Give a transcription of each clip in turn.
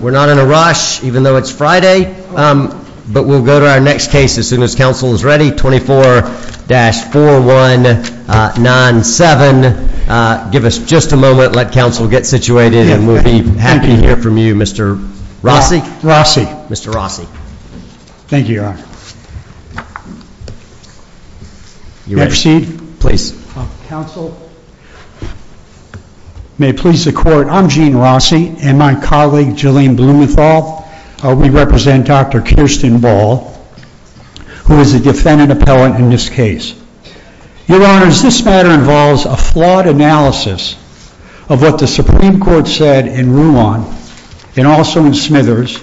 we're not in a rush even though it's Friday but we'll go to our next case as soon as council is ready 24-4197 give us just a moment let council get situated and we'll be happy to hear from you mr. Rossi Rossi mr. Rossi thank you you may proceed please counsel may please the court I'm Gene Rossi and my colleague Jillian Blumenthal we represent dr. Kirsten Ball who is a defendant appellant in this case your honors this matter involves a flawed analysis of what the Supreme Court said in Ruan and also in Smithers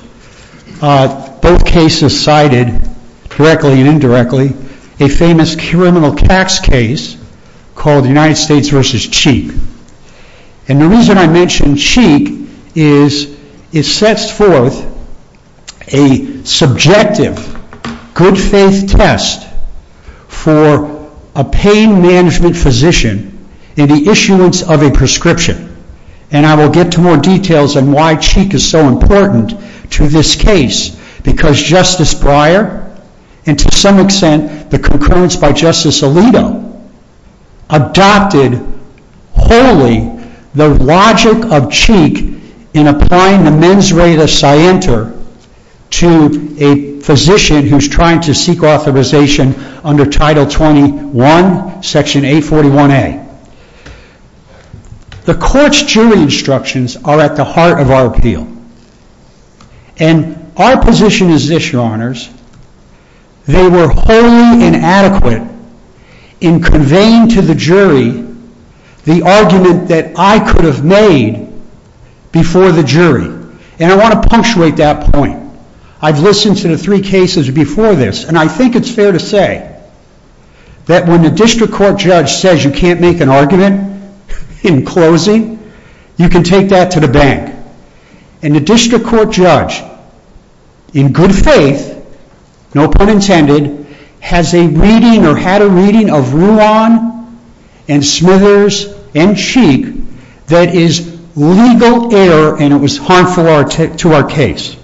both cases cited correctly and indirectly a famous criminal tax case called the United States versus Cheek and the reason I mentioned Cheek is it sets forth a subjective good-faith test for a pain management physician in the issuance of a prescription and I will get to more details and why Cheek is so important to this case because Justice Breyer and to some extent the concurrence by Justice Alito adopted wholly the logic of Cheek in applying the men's rate of Cienter to a physician who's trying to seek authorization under title 21 section 841 a the court's jury instructions are at the heart of our appeal and our position is this your honors they were wholly inadequate in conveying to the jury the argument that I could have made before the jury and I want to punctuate that point I've listened to the three cases before this and I think it's fair to say that when the district court judge says you can't make an argument in closing you can take that to the bank and the district court judge in good faith no pun intended has a reading or had a reading of Ruan and Smithers and Cheek that is legal error and it was harmful to our case.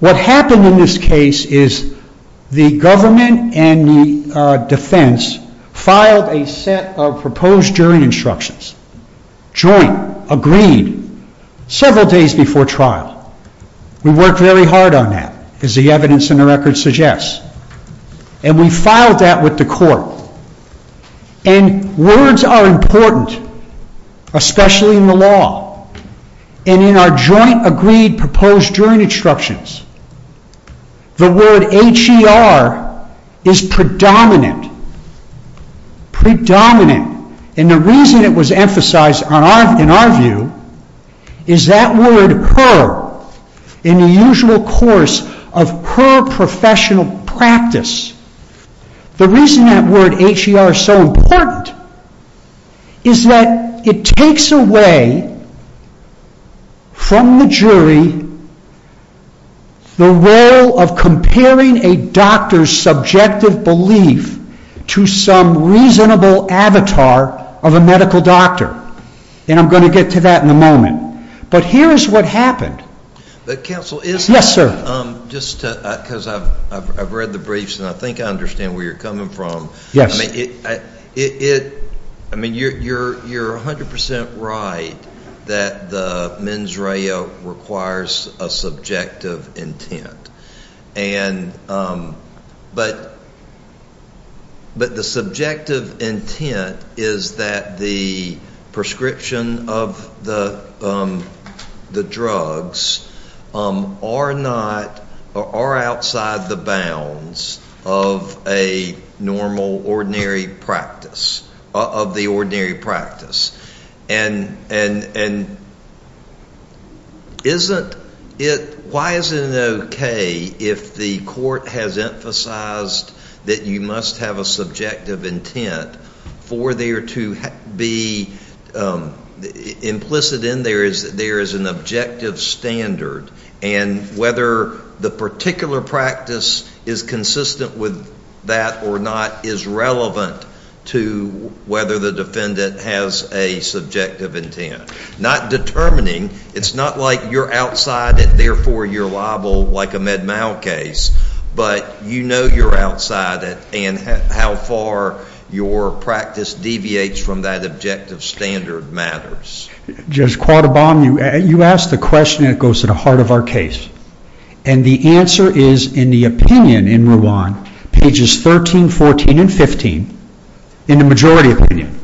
What happened in this case is the government and the defense filed a set of proposed jury instructions joint agreed several days before trial we worked very hard on that as the evidence in the record suggests and we filed that with the court and words are important especially in the law and in our joint agreed proposed jury instructions the word HER is predominant predominant and the reason it was our view is that word HER in the usual course of her professional practice the reason that word HER is so important is that it takes away from the jury the role of comparing a doctor's subjective belief to some reasonable avatar of a medical doctor and I'm going to get to that in a moment but here's what happened. Yes sir. Just because I've read the briefs and I think I understand where you're coming from yes I mean it I mean you're you're a hundred percent right that the mens reo requires a subjective intent and but but the subjective intent is that the prescription of the the drugs are not are outside the bounds of a normal ordinary practice of the ordinary practice and and and isn't it why is it okay if the court has emphasized that you must have a subjective intent for there to be implicit in there is there is an objective standard and whether the particular practice is consistent with that or not is relevant to whether the defendant has a subjective intent not determining it's not like you're outside it therefore you're liable like a med mal case but you know you're outside it and how far your practice deviates from that objective standard matters. Judge Quarterbomb you asked the question that goes to the heart of our case and the answer is in the opinion in Rwan pages 13, 14, and 15 in the majority opinion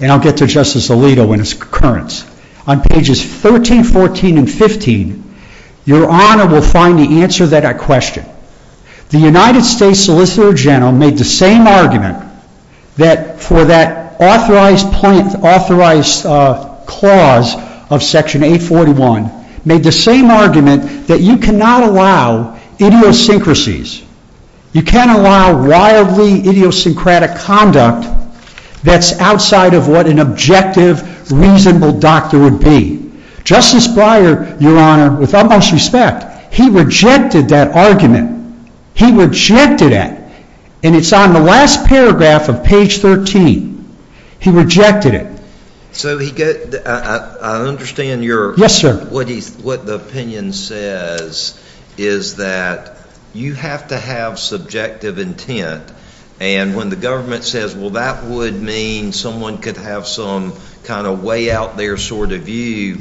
and I'll get to Justice Alito when it's concurrence on pages 13, 14, and 15 your honor will find the answer to that question. The United States Solicitor General made the same argument that for that authorized point authorized clause of section 841 made the same argument that you cannot allow idiosyncrasies. You can't allow wildly idiosyncratic conduct that's outside of what an objective reasonable doctor would be. Justice Breyer your honor with utmost respect he rejected that argument. He rejected it and it's on the last paragraph of page 13. He rejected it. So I understand what the opinion says is that you have to have subjective intent and when the government says well that would mean someone could have some kind of way out their sort of view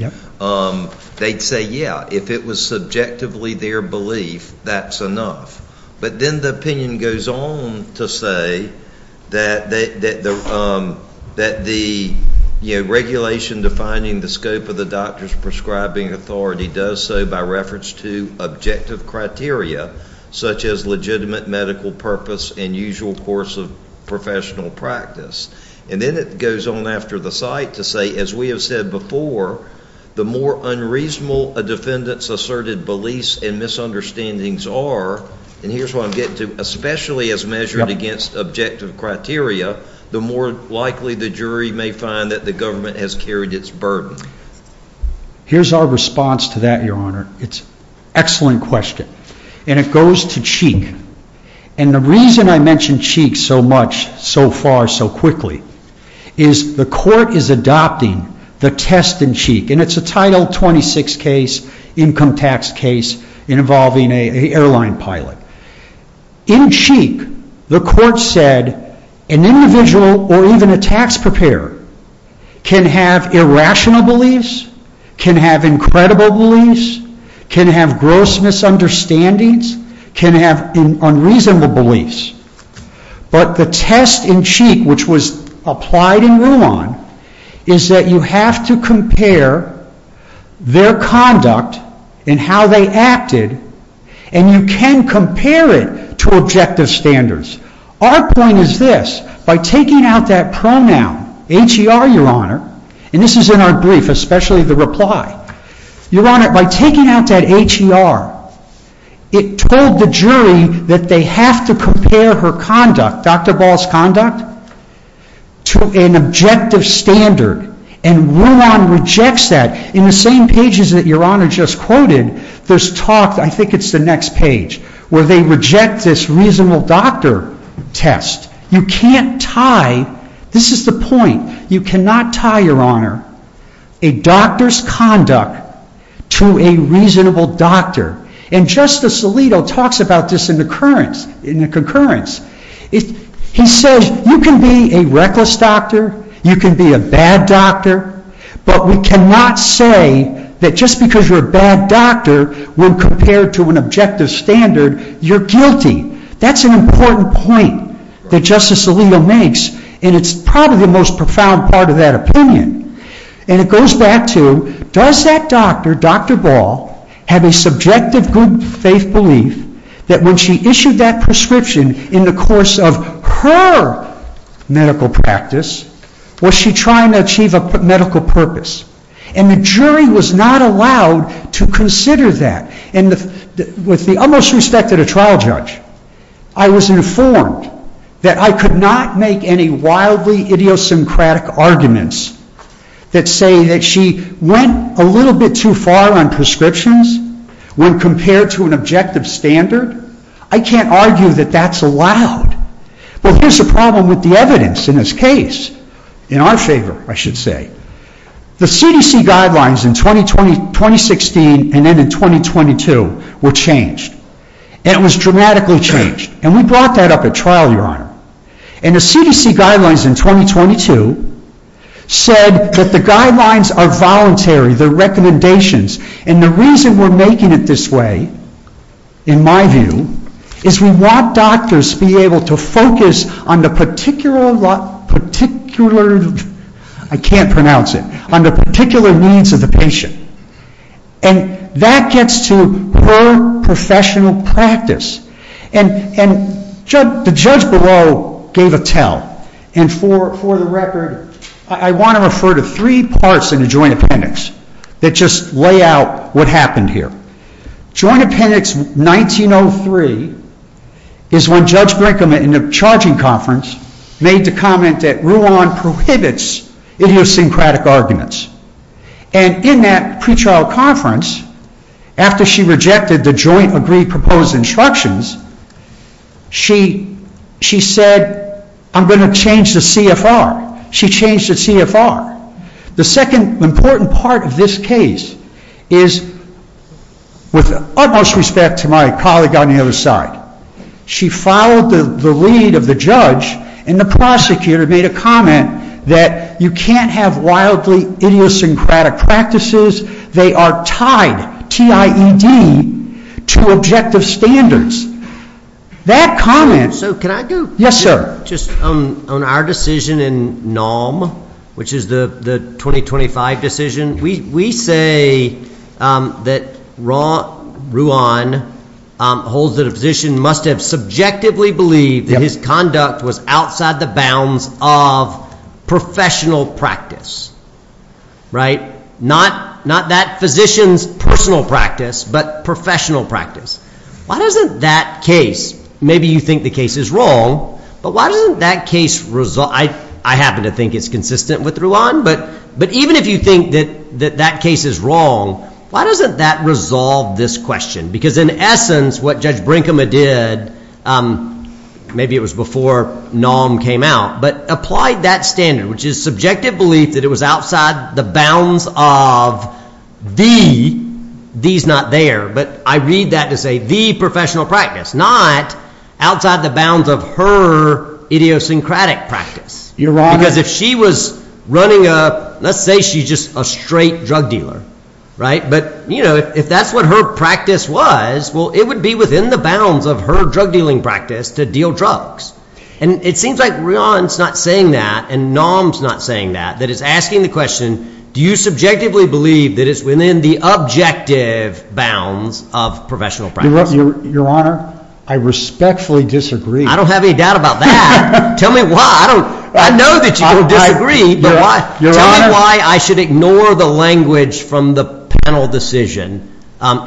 they'd say yeah if it was subjectively their belief that's enough but then the opinion goes on to say that the regulation defining the scope of the doctor's prescribing authority does so by reference to objective criteria such as legitimate medical purpose and usual course of professional practice and then it goes on after the site to say as we have said before the more unreasonable a defendant's asserted beliefs and misunderstandings are and here's what I'm getting to especially as measured against objective criteria the more likely the jury may find that the government has carried its burden. Here's our response to that your honor. It's an excellent question and it goes to Cheek and the reason I mention Cheek so much so far so quickly is the court is adopting the test in Cheek and it's a title 26 case income tax case involving an airline pilot. In Cheek the court said an individual or even a tax preparer can have irrational beliefs, can have incredible beliefs, can have gross misunderstandings, can have unreasonable beliefs but the test in Cheek which was applied in Ruan is that you have to compare their conduct and how they acted and you can compare it to objective standards. Our point is this by taking out that pronoun HER your honor and this is in our especially the reply, your honor by taking out that HER it told the jury that they have to compare her conduct, Dr. Ball's conduct, to an objective standard and Ruan rejects that. In the same pages that your honor just quoted there's talk, I think it's the next page, where they reject this reasonable doctor test. You can't tie, this is the point, you cannot tie your honor a doctor's conduct to a reasonable doctor and Justice Alito talks about this in the concurrence. He says you can be a reckless doctor, you can be a bad doctor but we cannot say that just because you're a bad doctor when compared to an objective standard you're guilty. That's an important point that Justice Alito makes and it's probably the most profound part of that opinion. And it goes back to does that doctor, Dr. Ball, have a subjective good faith belief that when she issued that prescription in the course of HER medical practice was she trying to achieve a medical purpose and the jury was not allowed to consider that and with the utmost respect to the trial judge I was informed that I could not make any wildly idiosyncratic arguments that say that she went a little bit too far on prescriptions when compared to an objective standard. I can't argue that that's allowed. But here's the problem with the evidence in this case, in our favor I should say. The CDC guidelines in 2016 and then in 2022 were changed and it was dramatically changed and we brought that up at trial your honor and the CDC guidelines in 2022 said that the guidelines are voluntary, they're recommendations and the reason we're making it this way, in my view, is we want doctors to be able to focus on the particular, I can't pronounce it, on the particular needs of the patient. And that gets to HER professional practice. And the judge below gave a tell and for the record, I want to refer to three parts in the Joint Appendix that just lay out what happened here. Joint Appendix 1903 is when Judge Brinkman in the charging conference made the comment that Rouen prohibits idiosyncratic arguments. And in that pre-trial conference, after she rejected the joint agreed proposed instructions, she said, I'm going to change the CFR. She changed the CFR. The second important part of this case is, with utmost respect to my colleague on the other side, she followed the lead of the judge and the prosecutor made a comment that you can't have wildly idiosyncratic practices. They are tied, T-I-E-D, to objective standards. That comment. So can I go? Yes, sir. Just on our decision in NOM, which is the 2025 decision, we say that Rouen holds that a physician must have subjectively believed that his conduct was outside the bounds of professional practice, right? Not that physician's personal practice, but professional practice. Why doesn't that case, maybe you think the case is wrong, but why doesn't that case, I happen to think it's consistent with Rouen, but even if you think that that case is wrong, why doesn't that resolve this question? Because in essence, what Judge Brinkema did, maybe it was before NOM came out, but applied that standard, which is subjective belief that it was outside the bounds of the, the's not there, but I read that to say the professional practice, not outside the bounds of her idiosyncratic practice. You're wrong. Because if she was running a, let's say she's just a straight drug dealer, right? But you know, if that's what her practice was, well, it would be within the bounds of her drug dealing practice to deal drugs. And it seems like Rouen's not saying that, and NOM's not saying that, that it's asking the question, do you subjectively believe that it's within the objective bounds of professional practice? Your Honor, I respectfully disagree. I don't have any doubt about that. Tell me why. I know that you can disagree, but tell me why I should ignore the language from the panel decision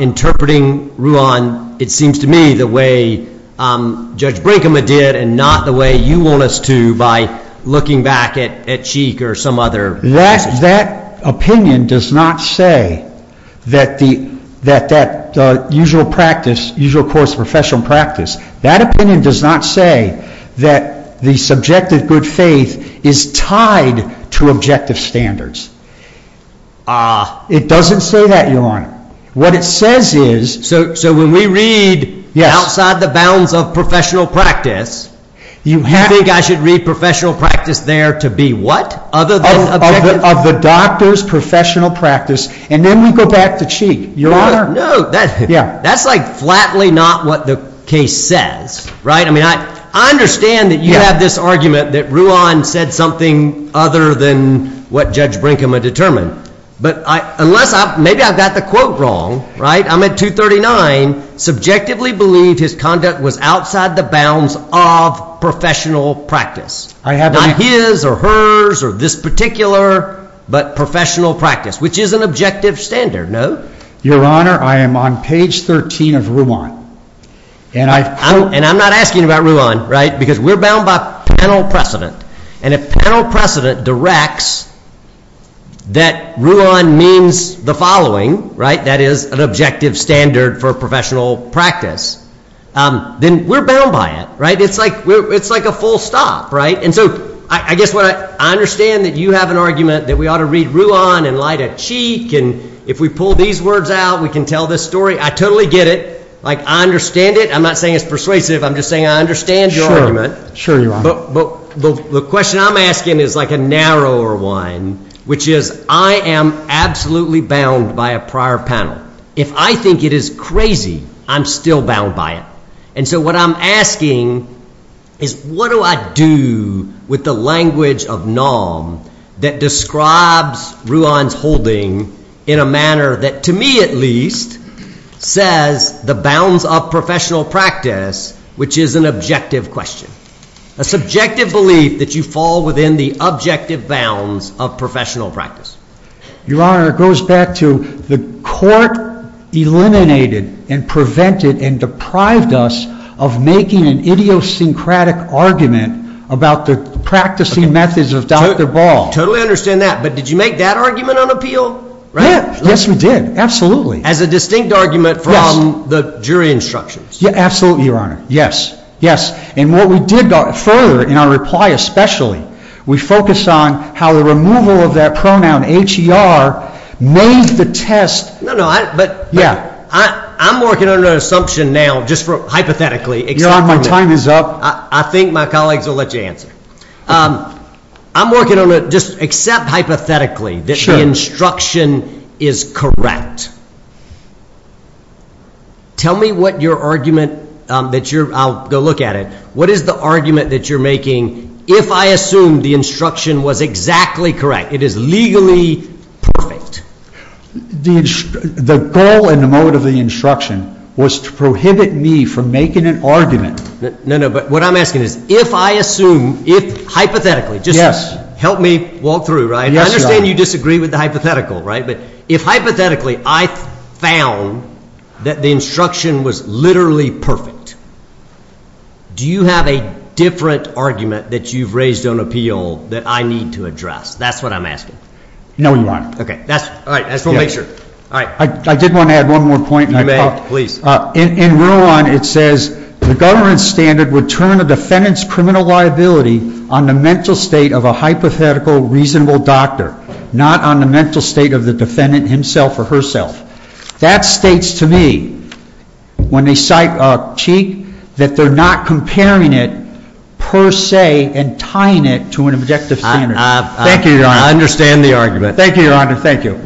interpreting Rouen, it seems to me, the way Judge Brinkema did and not the way you want us to by looking back at Sheik or some other. That, that opinion does not say that the, that, that the usual practice, usual course of professional practice, that opinion does not say that the subjective good faith is tied to objective standards. It doesn't say that, Your Honor. What it says is. So, so when we read outside the bounds of professional practice, you think I should read professional practice there to be what? Other than objective. Of the doctor's professional practice, and then we go back to Sheik. Your Honor. No, no, that's like flatly not what the case says, right? I mean, I, I understand that you have this argument that Rouen said something other than what Judge Brinkema determined, but I, unless I, maybe I've got the quote wrong, right? I'm at 239, subjectively believed his conduct was outside the bounds of professional practice. I have not his or hers or this particular, but professional practice, which is an objective standard. No, Your Honor. I am on page 13 of Rouen and I, and I'm not asking about Rouen, right? Because we're bound by panel precedent and a panel precedent directs that Rouen means the following, right? That is an objective standard for professional practice. Um, then we're bound by it, right? It's like, it's like a full stop, right? And so, I, I guess what I, I understand that you have an argument that we ought to read Rouen and light a cheek. And if we pull these words out, we can tell this story. I totally get it. Like, I understand it. I'm not saying it's persuasive. I'm just saying I understand your argument. Sure, Your Honor. But, but the question I'm asking is like a narrower one, which is, I am absolutely bound by a prior panel. If I think it is crazy, I'm still bound by it. And so, what I'm asking is what do I do with the language of norm that describes Rouen's holding in a manner that, to me at least, says the bounds of professional practice, which is an objective question. A subjective belief that you fall within the objective bounds of professional practice. Your Honor, it goes back to the court eliminated and prevented and deprived us of making an idiosyncratic argument about the practicing methods of Dr. Ball. Totally understand that. But did you make that argument on appeal? Yeah, yes, we did. Absolutely. As a distinct argument from the jury instructions. Yeah, absolutely, Your Honor. Yes, yes. And what we did further, in our reply especially, we focused on how the removal of that pronoun, H-E-R, made the test. No, no, but I'm working on an assumption now, just hypothetically. Your Honor, my time is up. I think my colleagues will let you answer. I'm working on a, just accept hypothetically that the instruction is correct. Tell me what your argument that you're, I'll go look at it. What is the argument that you're making if I assume the instruction was exactly correct? It is legally perfect. The goal and the motive of the instruction was to prohibit me from making an argument. No, no, but what I'm asking is, if I assume, if hypothetically, just help me walk through, right? Yes, Your Honor. I understand you disagree with the hypothetical, right? But if hypothetically, I found that the instruction was literally perfect, do you have a different argument that you've raised on appeal that I need to address? That's what I'm asking. No, Your Honor. Okay, that's, all right, we'll make sure. All right. I did want to add one more point. You may, please. In rule one, it says the government standard would turn a defendant's criminal liability on the mental state of a hypothetical, reasonable doctor, not on the mental state of the defendant himself or herself. That states to me, when they cite Cheek, that they're not comparing it per se and tying it to an objective standard. Thank you, Your Honor. I understand the argument. Thank you, Your Honor. Thank you.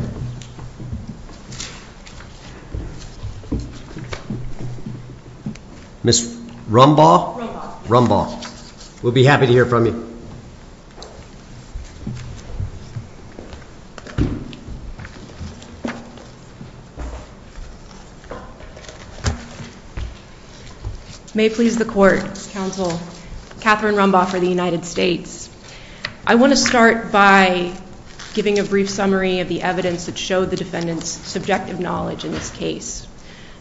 Ms. Rumbaugh? Rumbaugh. Rumbaugh. We'll be happy to hear from you. May it please the court, counsel, Catherine Rumbaugh for the United States. I want to start by giving a brief summary of the evidence that showed the defendant's subjective knowledge in this case.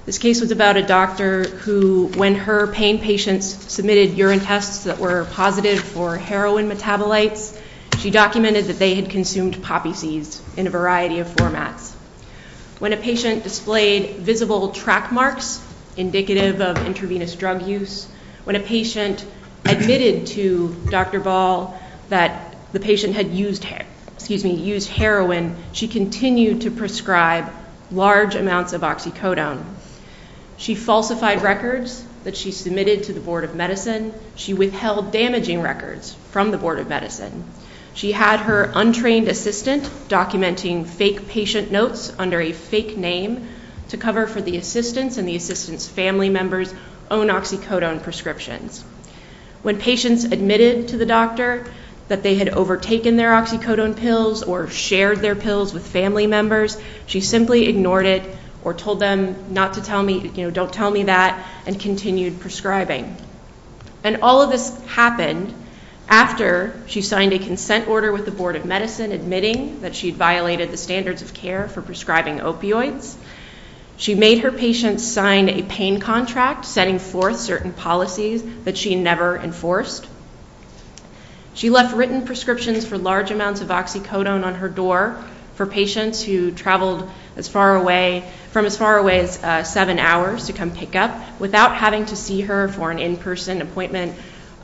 This case was about a doctor who, when her pain patients submitted urine tests that were positive for heroin metabolites, she documented that they had consumed poppy seeds in a variety of formats. When a patient displayed visible track marks indicative of intravenous drug use, when a patient admitted to Dr. Ball that the patient had used heroin, she continued to prescribe large amounts of oxycodone. She falsified records that she submitted to the Board of Medicine. She withheld damaging records from the Board of Medicine. She had her untrained assistant documenting fake patient notes under a fake name to cover for the assistant's and the assistant's family member's own oxycodone prescriptions. When patients admitted to the doctor that they had overtaken their oxycodone pills or shared their pills with family members, she simply ignored it or told them not to tell me, you know, don't tell me that and continued prescribing. And all of this happened after she signed a consent order with the Board of Medicine admitting that she'd violated the standards of care for prescribing opioids. She made her patients sign a pain contract setting forth certain policies that she never enforced. She left written prescriptions for large amounts of oxycodone on her door for patients who traveled as far away from as far away as seven hours to come pick up without having to see her for an in-person appointment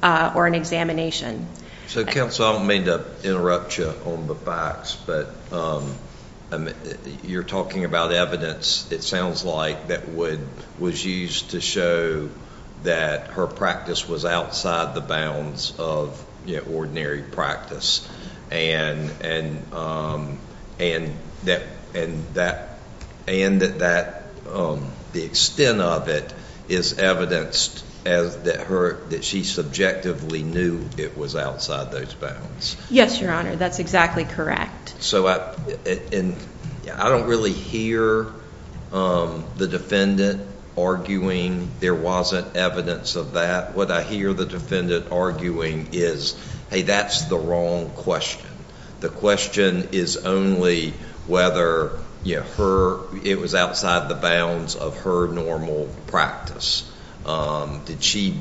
or an examination. So, counsel, I don't mean to interrupt you on the facts, but you're talking about evidence, it sounds like, that would was used to show that her practice was outside the bounds of, you know, ordinary practice and that and that and that that the extent of it is evidenced as that her that she subjectively knew it was outside those bounds. Yes, your honor, that's exactly correct. So, and I don't really hear the defendant arguing there wasn't evidence of that. What I hear the defendant arguing is, hey, that's the wrong question. The question is only whether, you know, her it was outside the bounds of her normal practice. Did she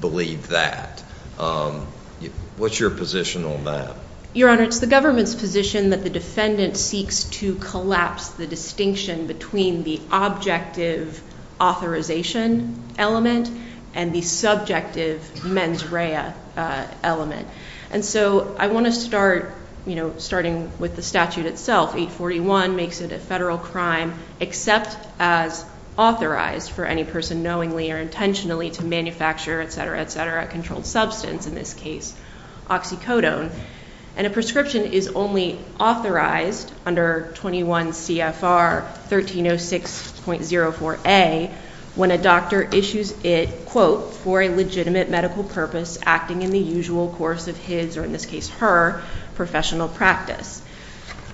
believe that? What's your position on that? Your honor, it's the government's position that the defendant seeks to collapse the distinction between the objective authorization element and the subjective mens rea element. And so I want to start, you know, starting with the statute itself, 841 makes it a federal crime except as authorized for any person knowingly or intentionally to manufacture, etc., etc., controlled substance, in this case, oxycodone. And a prescription is only authorized under 21 CFR 1306.04a when a doctor issues it, quote, for a legitimate medical purpose acting in the usual course of his, or in this case her, professional practice.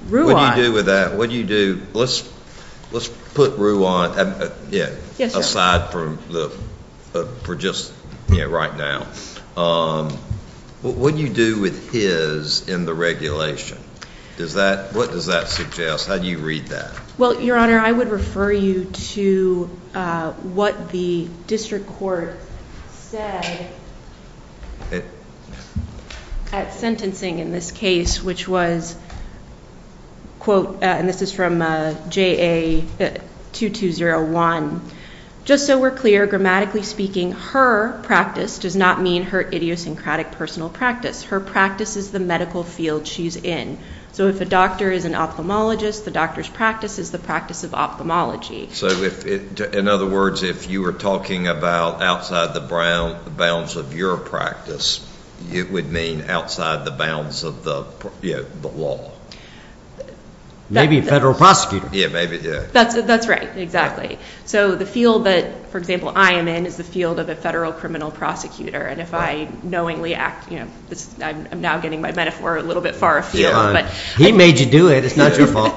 What do you do with that? What do you do? Let's put Ruan aside for just right now. What do you do with his in the regulation? What does that suggest? How do you read that? Well, your honor, I would refer you to what the district court said at sentencing in this case, which was, quote, and this is from JA 2201, just so we're clear, grammatically speaking, her practice does not mean her idiosyncratic personal practice. Her practice is the medical field she's in. So if a doctor is an ophthalmologist, the doctor's practice is the practice of ophthalmology. So in other words, if you were talking about outside the bounds of your practice, it would mean outside the bounds of the law. Maybe a federal prosecutor. Yeah, maybe, yeah. That's right, exactly. So the field that, for example, I am in is the field of a federal criminal prosecutor. And if I knowingly act, you know, I'm now getting my metaphor a little bit far afield, he made you do it. It's not your fault.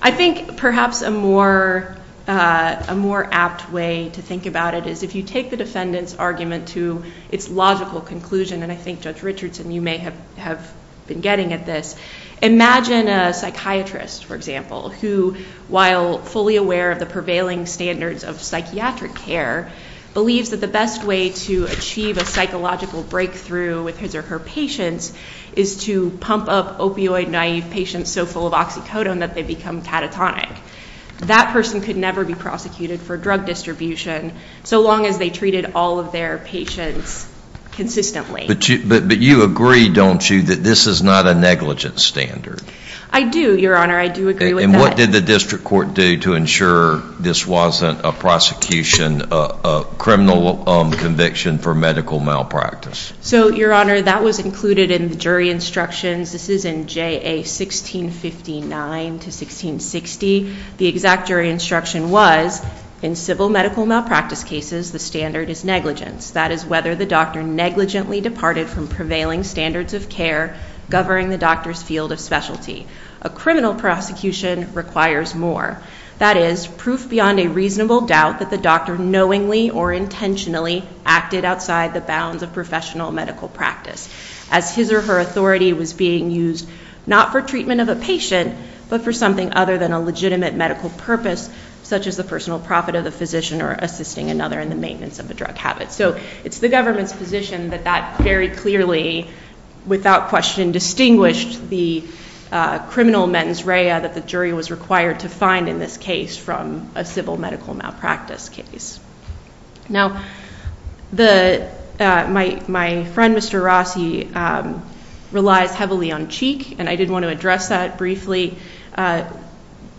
I think perhaps a more apt way to think about it is if you take the defendant's argument to its logical conclusion, and I think Judge Richardson, you may have been getting at this, imagine a psychiatrist, for example, who, while fully aware of the prevailing standards of psychiatric care, believes that the best way to achieve a psychological breakthrough with his or her patients is to pump up opioid-naive patients so full of oxycodone that they become catatonic. That person could never be prosecuted for drug distribution so long as they treated all of their patients consistently. But you agree, don't you, that this is not a negligent standard? I do, Your Honor. I do agree with that. And what did the district court do to ensure this wasn't a prosecution, a criminal conviction for medical malpractice? So, Your Honor, that was included in the jury instructions. This is in JA 1659 to 1660. The exact jury instruction was, in civil medical malpractice cases, the standard is negligence. That is whether the doctor negligently departed from prevailing standards of care governing the doctor's field of specialty. A criminal prosecution requires more. That is proof beyond a reasonable doubt that the doctor knowingly or intentionally acted outside the bounds of professional medical practice as his or her authority was being used not for treatment of a patient but for something other than a legitimate medical purpose such as the personal profit of the physician or assisting another in the maintenance of a drug habit. So it's the government's position that that very clearly, without question, distinguished the criminal mens rea that the jury was required to find in this case from a civil medical malpractice case. Now, my friend, Mr. Rossi, relies heavily on Cheek, and I did want to address that briefly.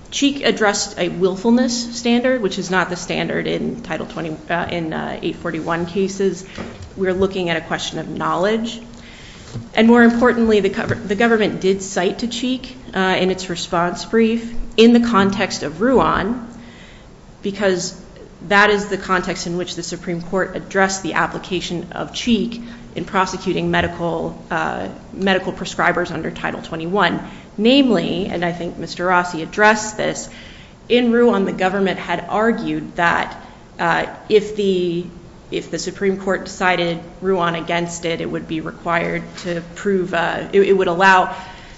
Cheek addressed a willfulness standard, which is not the standard in Title 20, in 841 cases. We're looking at a question of knowledge. And more importantly, the government did cite to Cheek in its response brief in the context of Ruan, because that is the context in which the Supreme Court addressed the application of Cheek in prosecuting medical prescribers under Title 21. Namely, and I think Mr. Rossi addressed this, in Ruan the government had argued that if the Supreme Court decided Ruan against it, it would be required to prove, it would allow,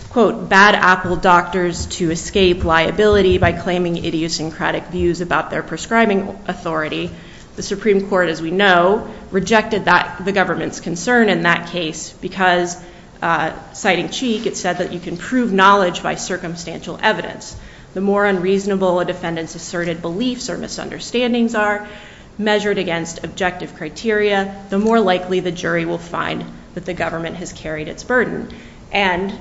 quote, bad apple doctors to escape liability by claiming idiosyncratic views about their prescribing authority. The Supreme Court, as we know, rejected the government's concern in that case because, citing Cheek, it said that you can prove knowledge by circumstantial evidence. The more unreasonable a defendant's asserted beliefs or misunderstandings are, measured against objective criteria, the more likely the jury will find that the government has carried its burden. And,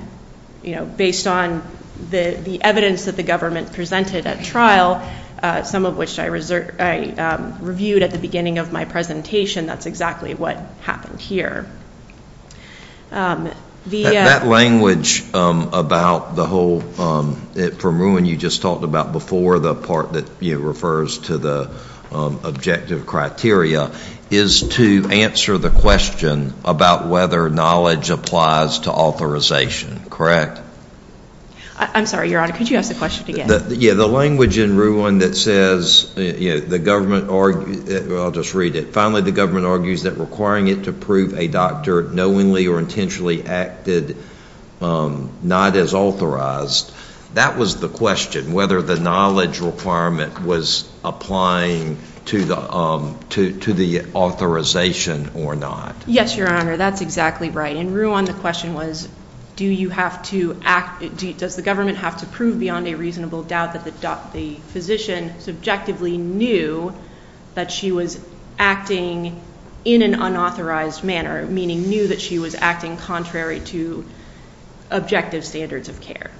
you know, based on the evidence that the government presented at trial, some of which I reviewed at the beginning of my presentation, that's exactly what happened here. That language about the whole, from Ruan, you just talked about before the part that refers to the objective criteria, is to answer the question about whether knowledge applies to authorization, correct? I'm sorry, Your Honor, could you ask the question again? Yeah, the language in Ruan that says, you know, the government, I'll just read it, finally the government argues that requiring it to prove a doctor knowingly or intentionally acted not as authorized, that was the question, whether the knowledge requirement was applying to the authorization or not. Yes, Your Honor, that's exactly right. In Ruan, the question was, do you have to act, does the government have to prove beyond a reasonable doubt that the physician subjectively knew that she was acting in an unauthorized manner, meaning knew that she was acting contrary to objective standards of care.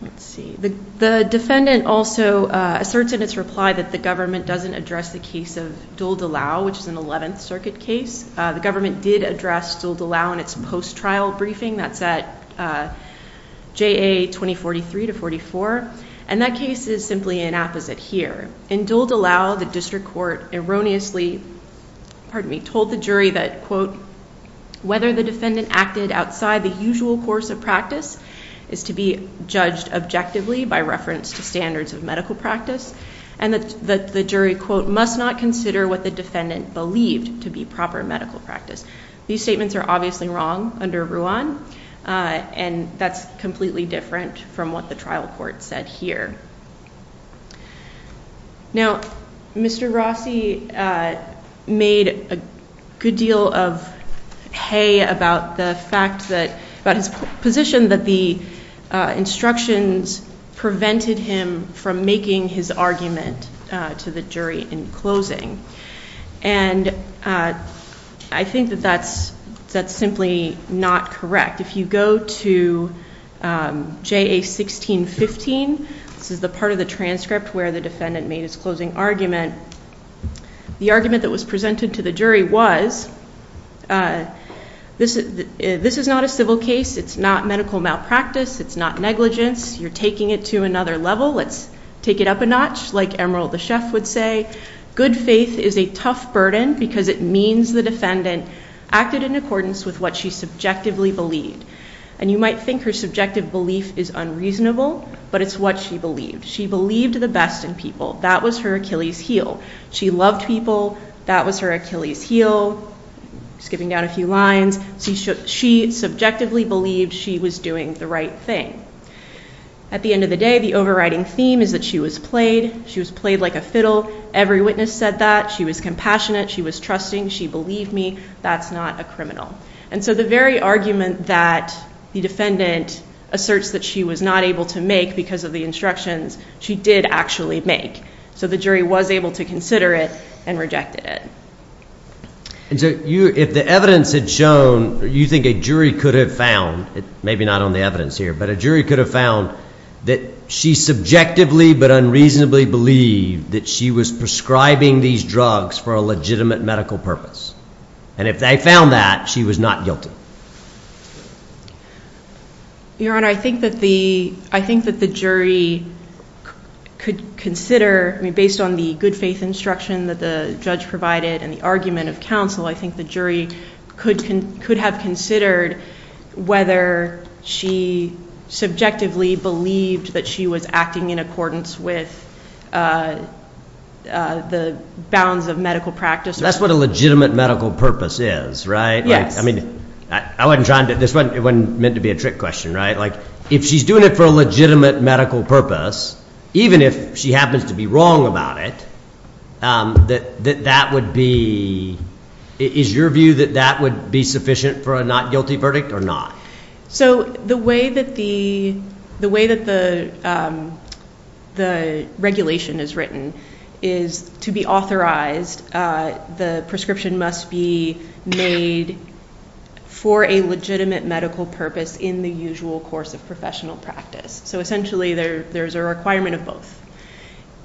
Let's see, the defendant also asserts in its reply that the government doesn't address the case of Dole DeLau, which is an 11th Circuit case. The government did address Dole DeLau in its post-trial briefing, that's at JA 2043 to 44, and that case is simply an apposite here. In Dole DeLau, the district court erroneously, pardon me, told the jury that, quote, whether the defendant acted outside the usual course of practice is to be judged objectively by reference to standards of medical practice, and that the jury, quote, must not consider what the defendant believed to be proper medical practice. These statements are obviously wrong under Ruan, and that's completely different from what the trial court said here. Now, Mr. Rossi made a good deal of hay about the fact that, about his position that the instructions prevented him from making his argument to the jury in closing, and I think that that's simply not correct. If you go to JA 1615, this is the part of the transcript where the defendant made his closing argument, the argument that was presented to the jury was, this is not a civil case, it's not medical malpractice, it's not negligence, you're taking it to another level, let's take it up a notch, like Emerald the chef would say. Good faith is a tough burden because it means the defendant acted in accordance with what she subjectively believed, and you might think her subjective belief is unreasonable, but it's what she believed. She believed the best in people. That was her Achilles heel. She loved people. That was her Achilles heel, skipping down a few lines. She subjectively believed she was doing the right thing. At the end of the day, the overriding theme is that she was played. She was played like a fiddle. Every witness said that. She was compassionate. She was trusting. She believed me. That's not a criminal. And so the very argument that the defendant asserts that she was not able to make because of the instructions, she did actually make. So the jury was able to consider it and rejected it. And so if the evidence had shown, you think a jury could have found, maybe not on the evidence here, but a jury could have found that she subjectively but unreasonably believed that she was prescribing these drugs for a legitimate medical purpose. And if they found that, she was not guilty. Your Honor, I think that the jury could consider, I mean, based on the good faith instruction that the judge provided and the argument of counsel, I think the jury could have considered whether she subjectively believed that she was acting in accordance with the bounds of medical practice. That's what a legitimate medical purpose is, right? Yes. I mean, I wasn't trying to, this wasn't meant to be a trick question, right? Like, if she's doing it for a legitimate medical purpose, even if she happens to be wrong about it, that that would be, is your view that that would be sufficient for a not guilty verdict or not? So the way that the regulation is written is to be authorized, the prescription must be made for a legitimate medical purpose in the usual course of professional practice. So essentially, there's a requirement of both.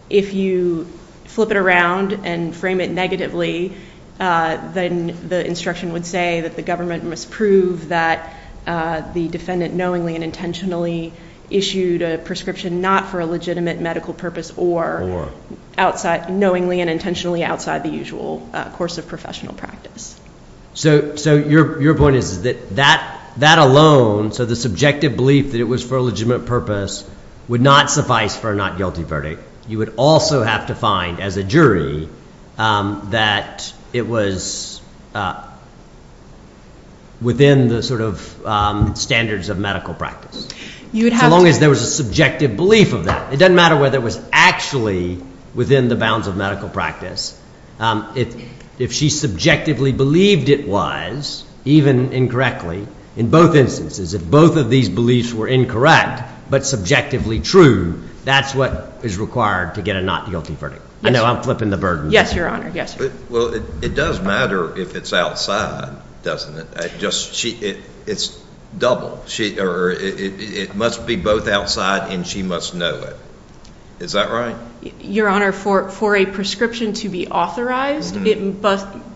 If you flip it around and frame it negatively, then the instruction would say that the government must prove that the defendant knowingly and intentionally issued a prescription not for a legitimate medical purpose or outside, knowingly and intentionally outside the usual course of professional practice. So your point is that that alone, so the subjective belief that it was for a legitimate purpose would not suffice for a not guilty verdict. You would also have to find, as a jury, that it was within the sort of standards of medical practice. You would have to. So long as there was a subjective belief of that. It doesn't matter whether it was actually within the bounds of medical practice. If she subjectively believed it was, even incorrectly, in both instances, if both of these beliefs were incorrect, but subjectively true, that's what is required to get a not guilty verdict. I know I'm flipping the burden. Yes, Your Honor. Yes. Well, it does matter if it's outside, doesn't it? It's double. It must be both outside and she must know it. Is that right? Your Honor, for a prescription to be authorized,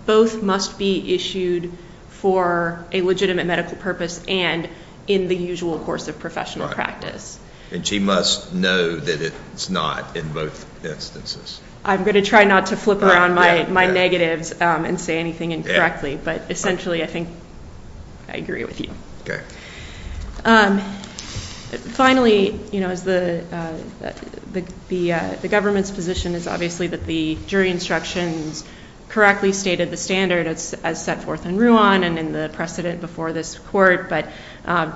both must be issued for a legitimate medical purpose and in the usual course of professional practice. And she must know that it's not in both instances. I'm going to try not to flip around my negatives and say anything incorrectly, but essentially, I think I agree with you. Finally, the government's position is obviously that the jury instructions correctly stated the standard as set forth in Ruan and in the precedent before this Court, but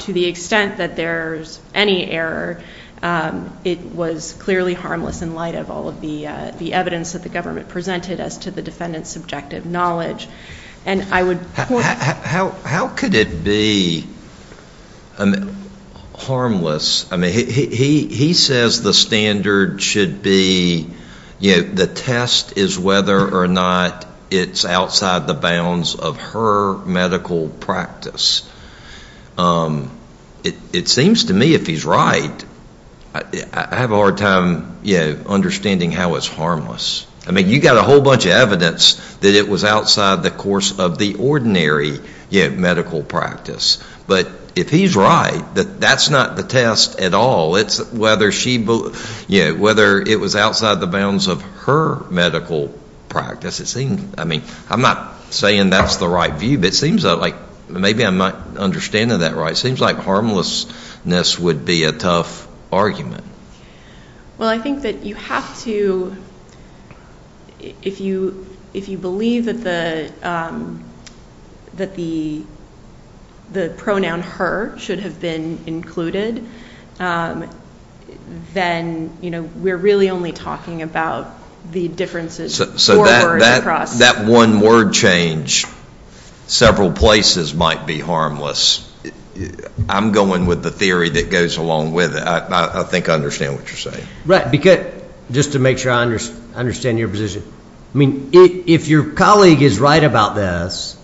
to the extent that there's any error, it was clearly harmless in light of all of the evidence that the government presented as to the defendant's subjective knowledge. And I would point out— How could it be harmless? He says the standard should be—the test is whether or not it's outside the bounds of her medical practice. It seems to me if he's right, I have a hard time understanding how it's harmless. I mean, you've got a whole bunch of evidence that it was outside the course of the ordinary medical practice. But if he's right, that's not the test at all. It's whether it was outside the bounds of her medical practice. It seems—I mean, I'm not saying that's the right view, but it seems like—maybe I'm not understanding that right. It seems like harmlessness would be a tough argument. Well, I think that you have to—if you believe that the pronoun her should have been included, then, you know, we're really only talking about the differences four words across. That one word change several places might be harmless. I'm going with the theory that goes along with it. I think I understand what you're saying. Just to make sure I understand your position. I mean, if your colleague is right about this,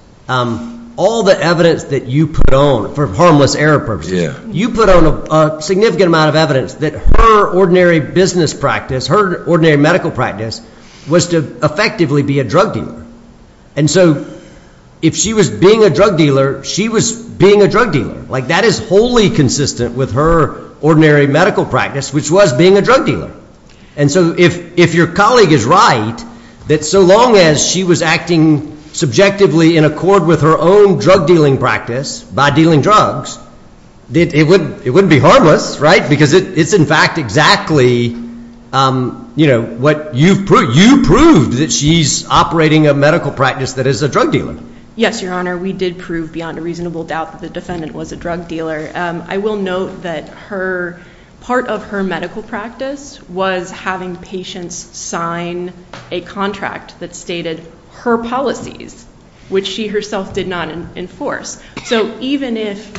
all the evidence that you put on for harmless error purposes, you put on a significant amount of evidence that her ordinary business practice, her ordinary medical practice, was to effectively be a drug dealer. And so if she was being a drug dealer, she was being a drug dealer. That is wholly consistent with her ordinary medical practice, which was being a drug dealer. And so if your colleague is right that so long as she was acting subjectively in accord with her own drug dealing practice by dealing drugs, it wouldn't be harmless, right? Because it's in fact exactly, you know, what you've proved. You've proved that she's operating a medical practice that is a drug dealer. Yes, Your Honor, we did prove beyond a reasonable doubt that the defendant was a drug dealer. I will note that part of her medical practice was having patients sign a contract that stated her policies, which she herself did not enforce. So even if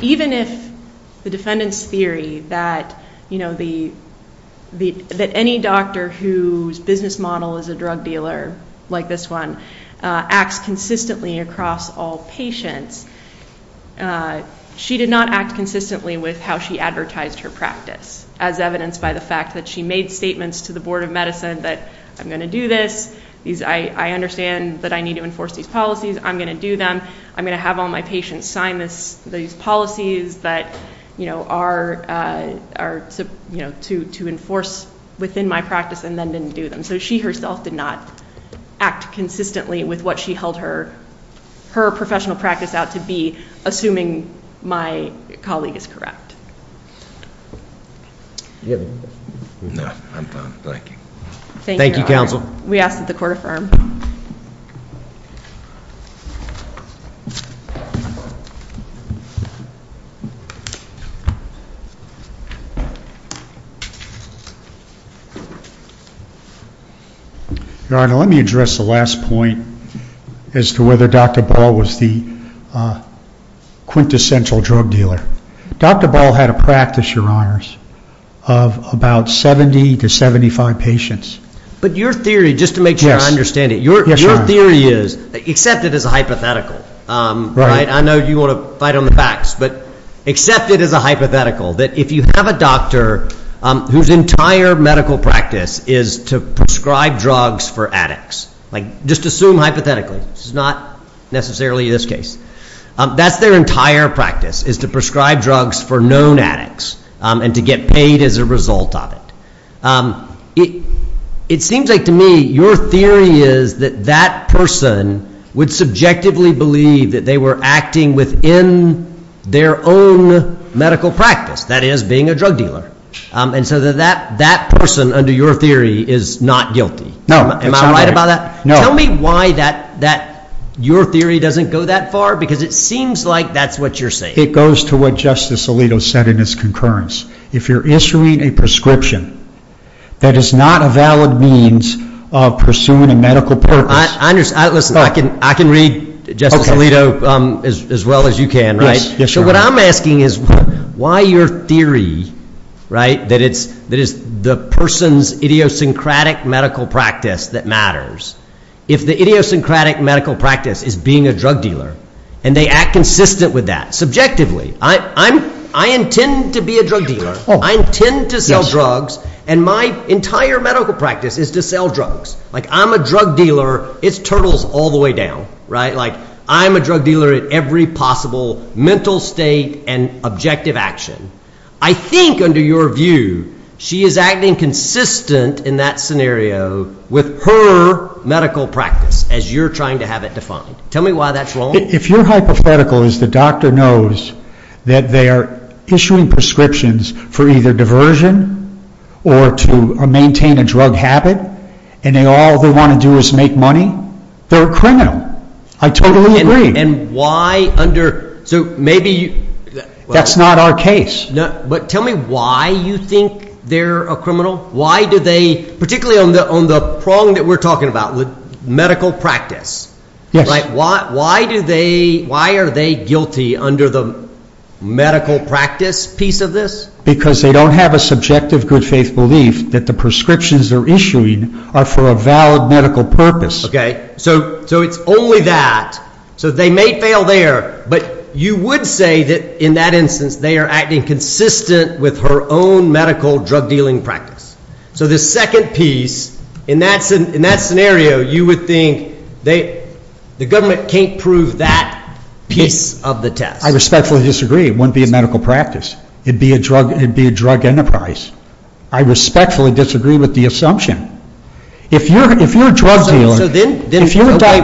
the defendant's theory that any doctor whose business model is a drug dealer, like this one, acts consistently across all patients, she did not act consistently with how she advertised her practice, as evidenced by the fact that she made statements to the Board of Medicine that, I'm going to do this. I understand that I need to enforce these policies. I'm going to do them. I'm going to have all my patients sign these policies that, you know, are to enforce within my practice and then didn't do them. So she herself did not act consistently with what she held her professional practice out to be, assuming my colleague is correct. No, I'm done. Thank you. Thank you, counsel. We ask that the court affirm. Your Honor, let me address the last point as to whether Dr. Ball was the quintessential drug dealer. Dr. Ball had a practice, Your Honors, of about 70 to 75 patients. But your theory, just to make sure I understand it, your theory is, except it is a hypothetical, right? I know you want to fight on the facts. But except it is a hypothetical, that if you have a doctor whose entire medical practice is to prescribe drugs for addicts, like just assume hypothetically, which is not necessarily this case, that's their entire practice, is to prescribe drugs for known addicts and to get paid as a result of it. It seems like to me your theory is that that person would subjectively believe that they were acting within their own medical practice, that is, being a drug dealer. And so that person, under your theory, is not guilty. No. Am I right about that? No. Tell me why that your theory doesn't go that far, because it seems like that's what you're saying. It goes to what Justice Alito said in his concurrence. If you're issuing a prescription, that is not a valid means of pursuing a medical purpose. I understand. Listen, I can read Justice Alito as well as you can, right? Yes, Your Honor. What I'm asking is why your theory that it's the person's idiosyncratic medical practice that matters, if the idiosyncratic medical practice is being a drug dealer and they act consistent with that subjectively. I intend to be a drug dealer. I intend to sell drugs. And my entire medical practice is to sell drugs. I'm a drug dealer. It's turtles all the way down. I'm a drug dealer at every possible mental state and objective action. I think, under your view, she is acting consistent in that scenario with her medical practice, as you're trying to have it defined. Tell me why that's wrong. If your hypothetical is the doctor knows that they are issuing prescriptions for either diversion or to maintain a drug habit, and all they want to do is make money, they're a criminal. I totally agree. And why under—so maybe— That's not our case. But tell me why you think they're a criminal. Why do they—particularly on the prong that we're talking about, the medical practice. Yes. Why are they guilty under the medical practice piece of this? Because they don't have a subjective good faith belief that the prescriptions they're issuing are for a valid medical purpose. So it's only that. So they may fail there. But you would say that, in that instance, they are acting consistent with her own medical drug dealing practice. So the second piece, in that scenario, you would think the government can't prove that piece of the test. I respectfully disagree. It wouldn't be a medical practice. It'd be a drug enterprise. I respectfully disagree with the assumption. If you're a drug dealer— Then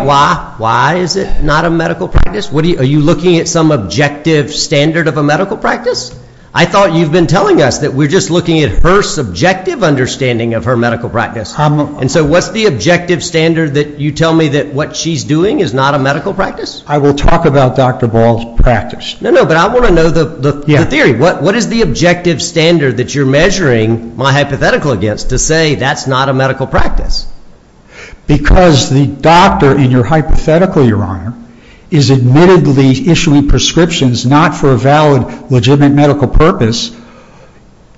why is it not a medical practice? Are you looking at some objective standard of a medical practice? I thought you've been telling us that we're just looking at her subjective understanding of her medical practice. And so what's the objective standard that you tell me that what she's doing is not a medical practice? I will talk about Dr. Ball's practice. No, no. But I want to know the theory. What is the objective standard that you're measuring my hypothetical against to say that's not a medical practice? Because the doctor in your hypothetical, Your Honor, is admittedly issuing prescriptions not for a valid, legitimate medical purpose,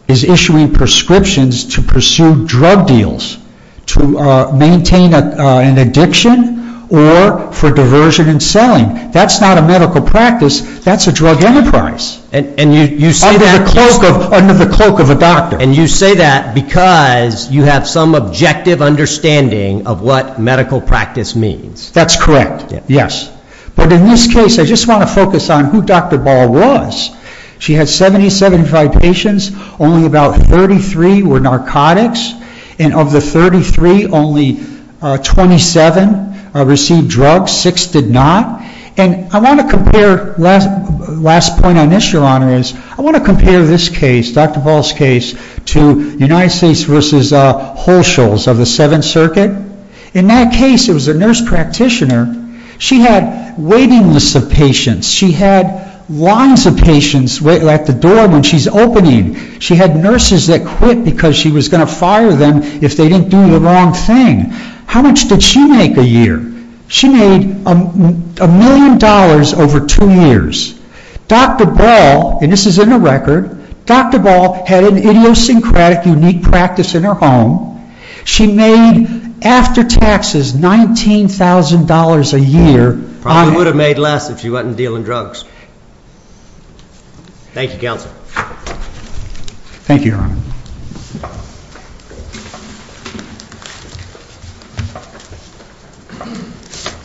is issuing prescriptions to pursue drug deals, to maintain an addiction, or for diversion and selling. That's not a medical practice. That's a drug enterprise under the cloak of a doctor. And you say that because you have some objective understanding of what medical practice means. That's correct. Yes. But in this case, I just want to focus on who Dr. Ball was. She had 70, 75 patients. Only about 33 were narcotics. And of the 33, only 27 received drugs. Six did not. And I want to compare—last point on this, Your Honor, is I want to compare this case, Dr. Ball's case, to United States versus Holschulz of the Seventh Circuit. In that case, it was a nurse practitioner. She had waiting lists of patients. She had lines of patients at the door when she's opening. She had nurses that quit because she was going to fire them if they didn't do the wrong thing. How much did she make a year? She made a million dollars over two years. Dr. Ball—and this is in the record—Dr. Ball had an idiosyncratic, unique practice in her home. She made, after taxes, $19,000 a year. Probably would have made less if she wasn't dealing drugs. Thank you, Counsel. Thank you, Your Honor.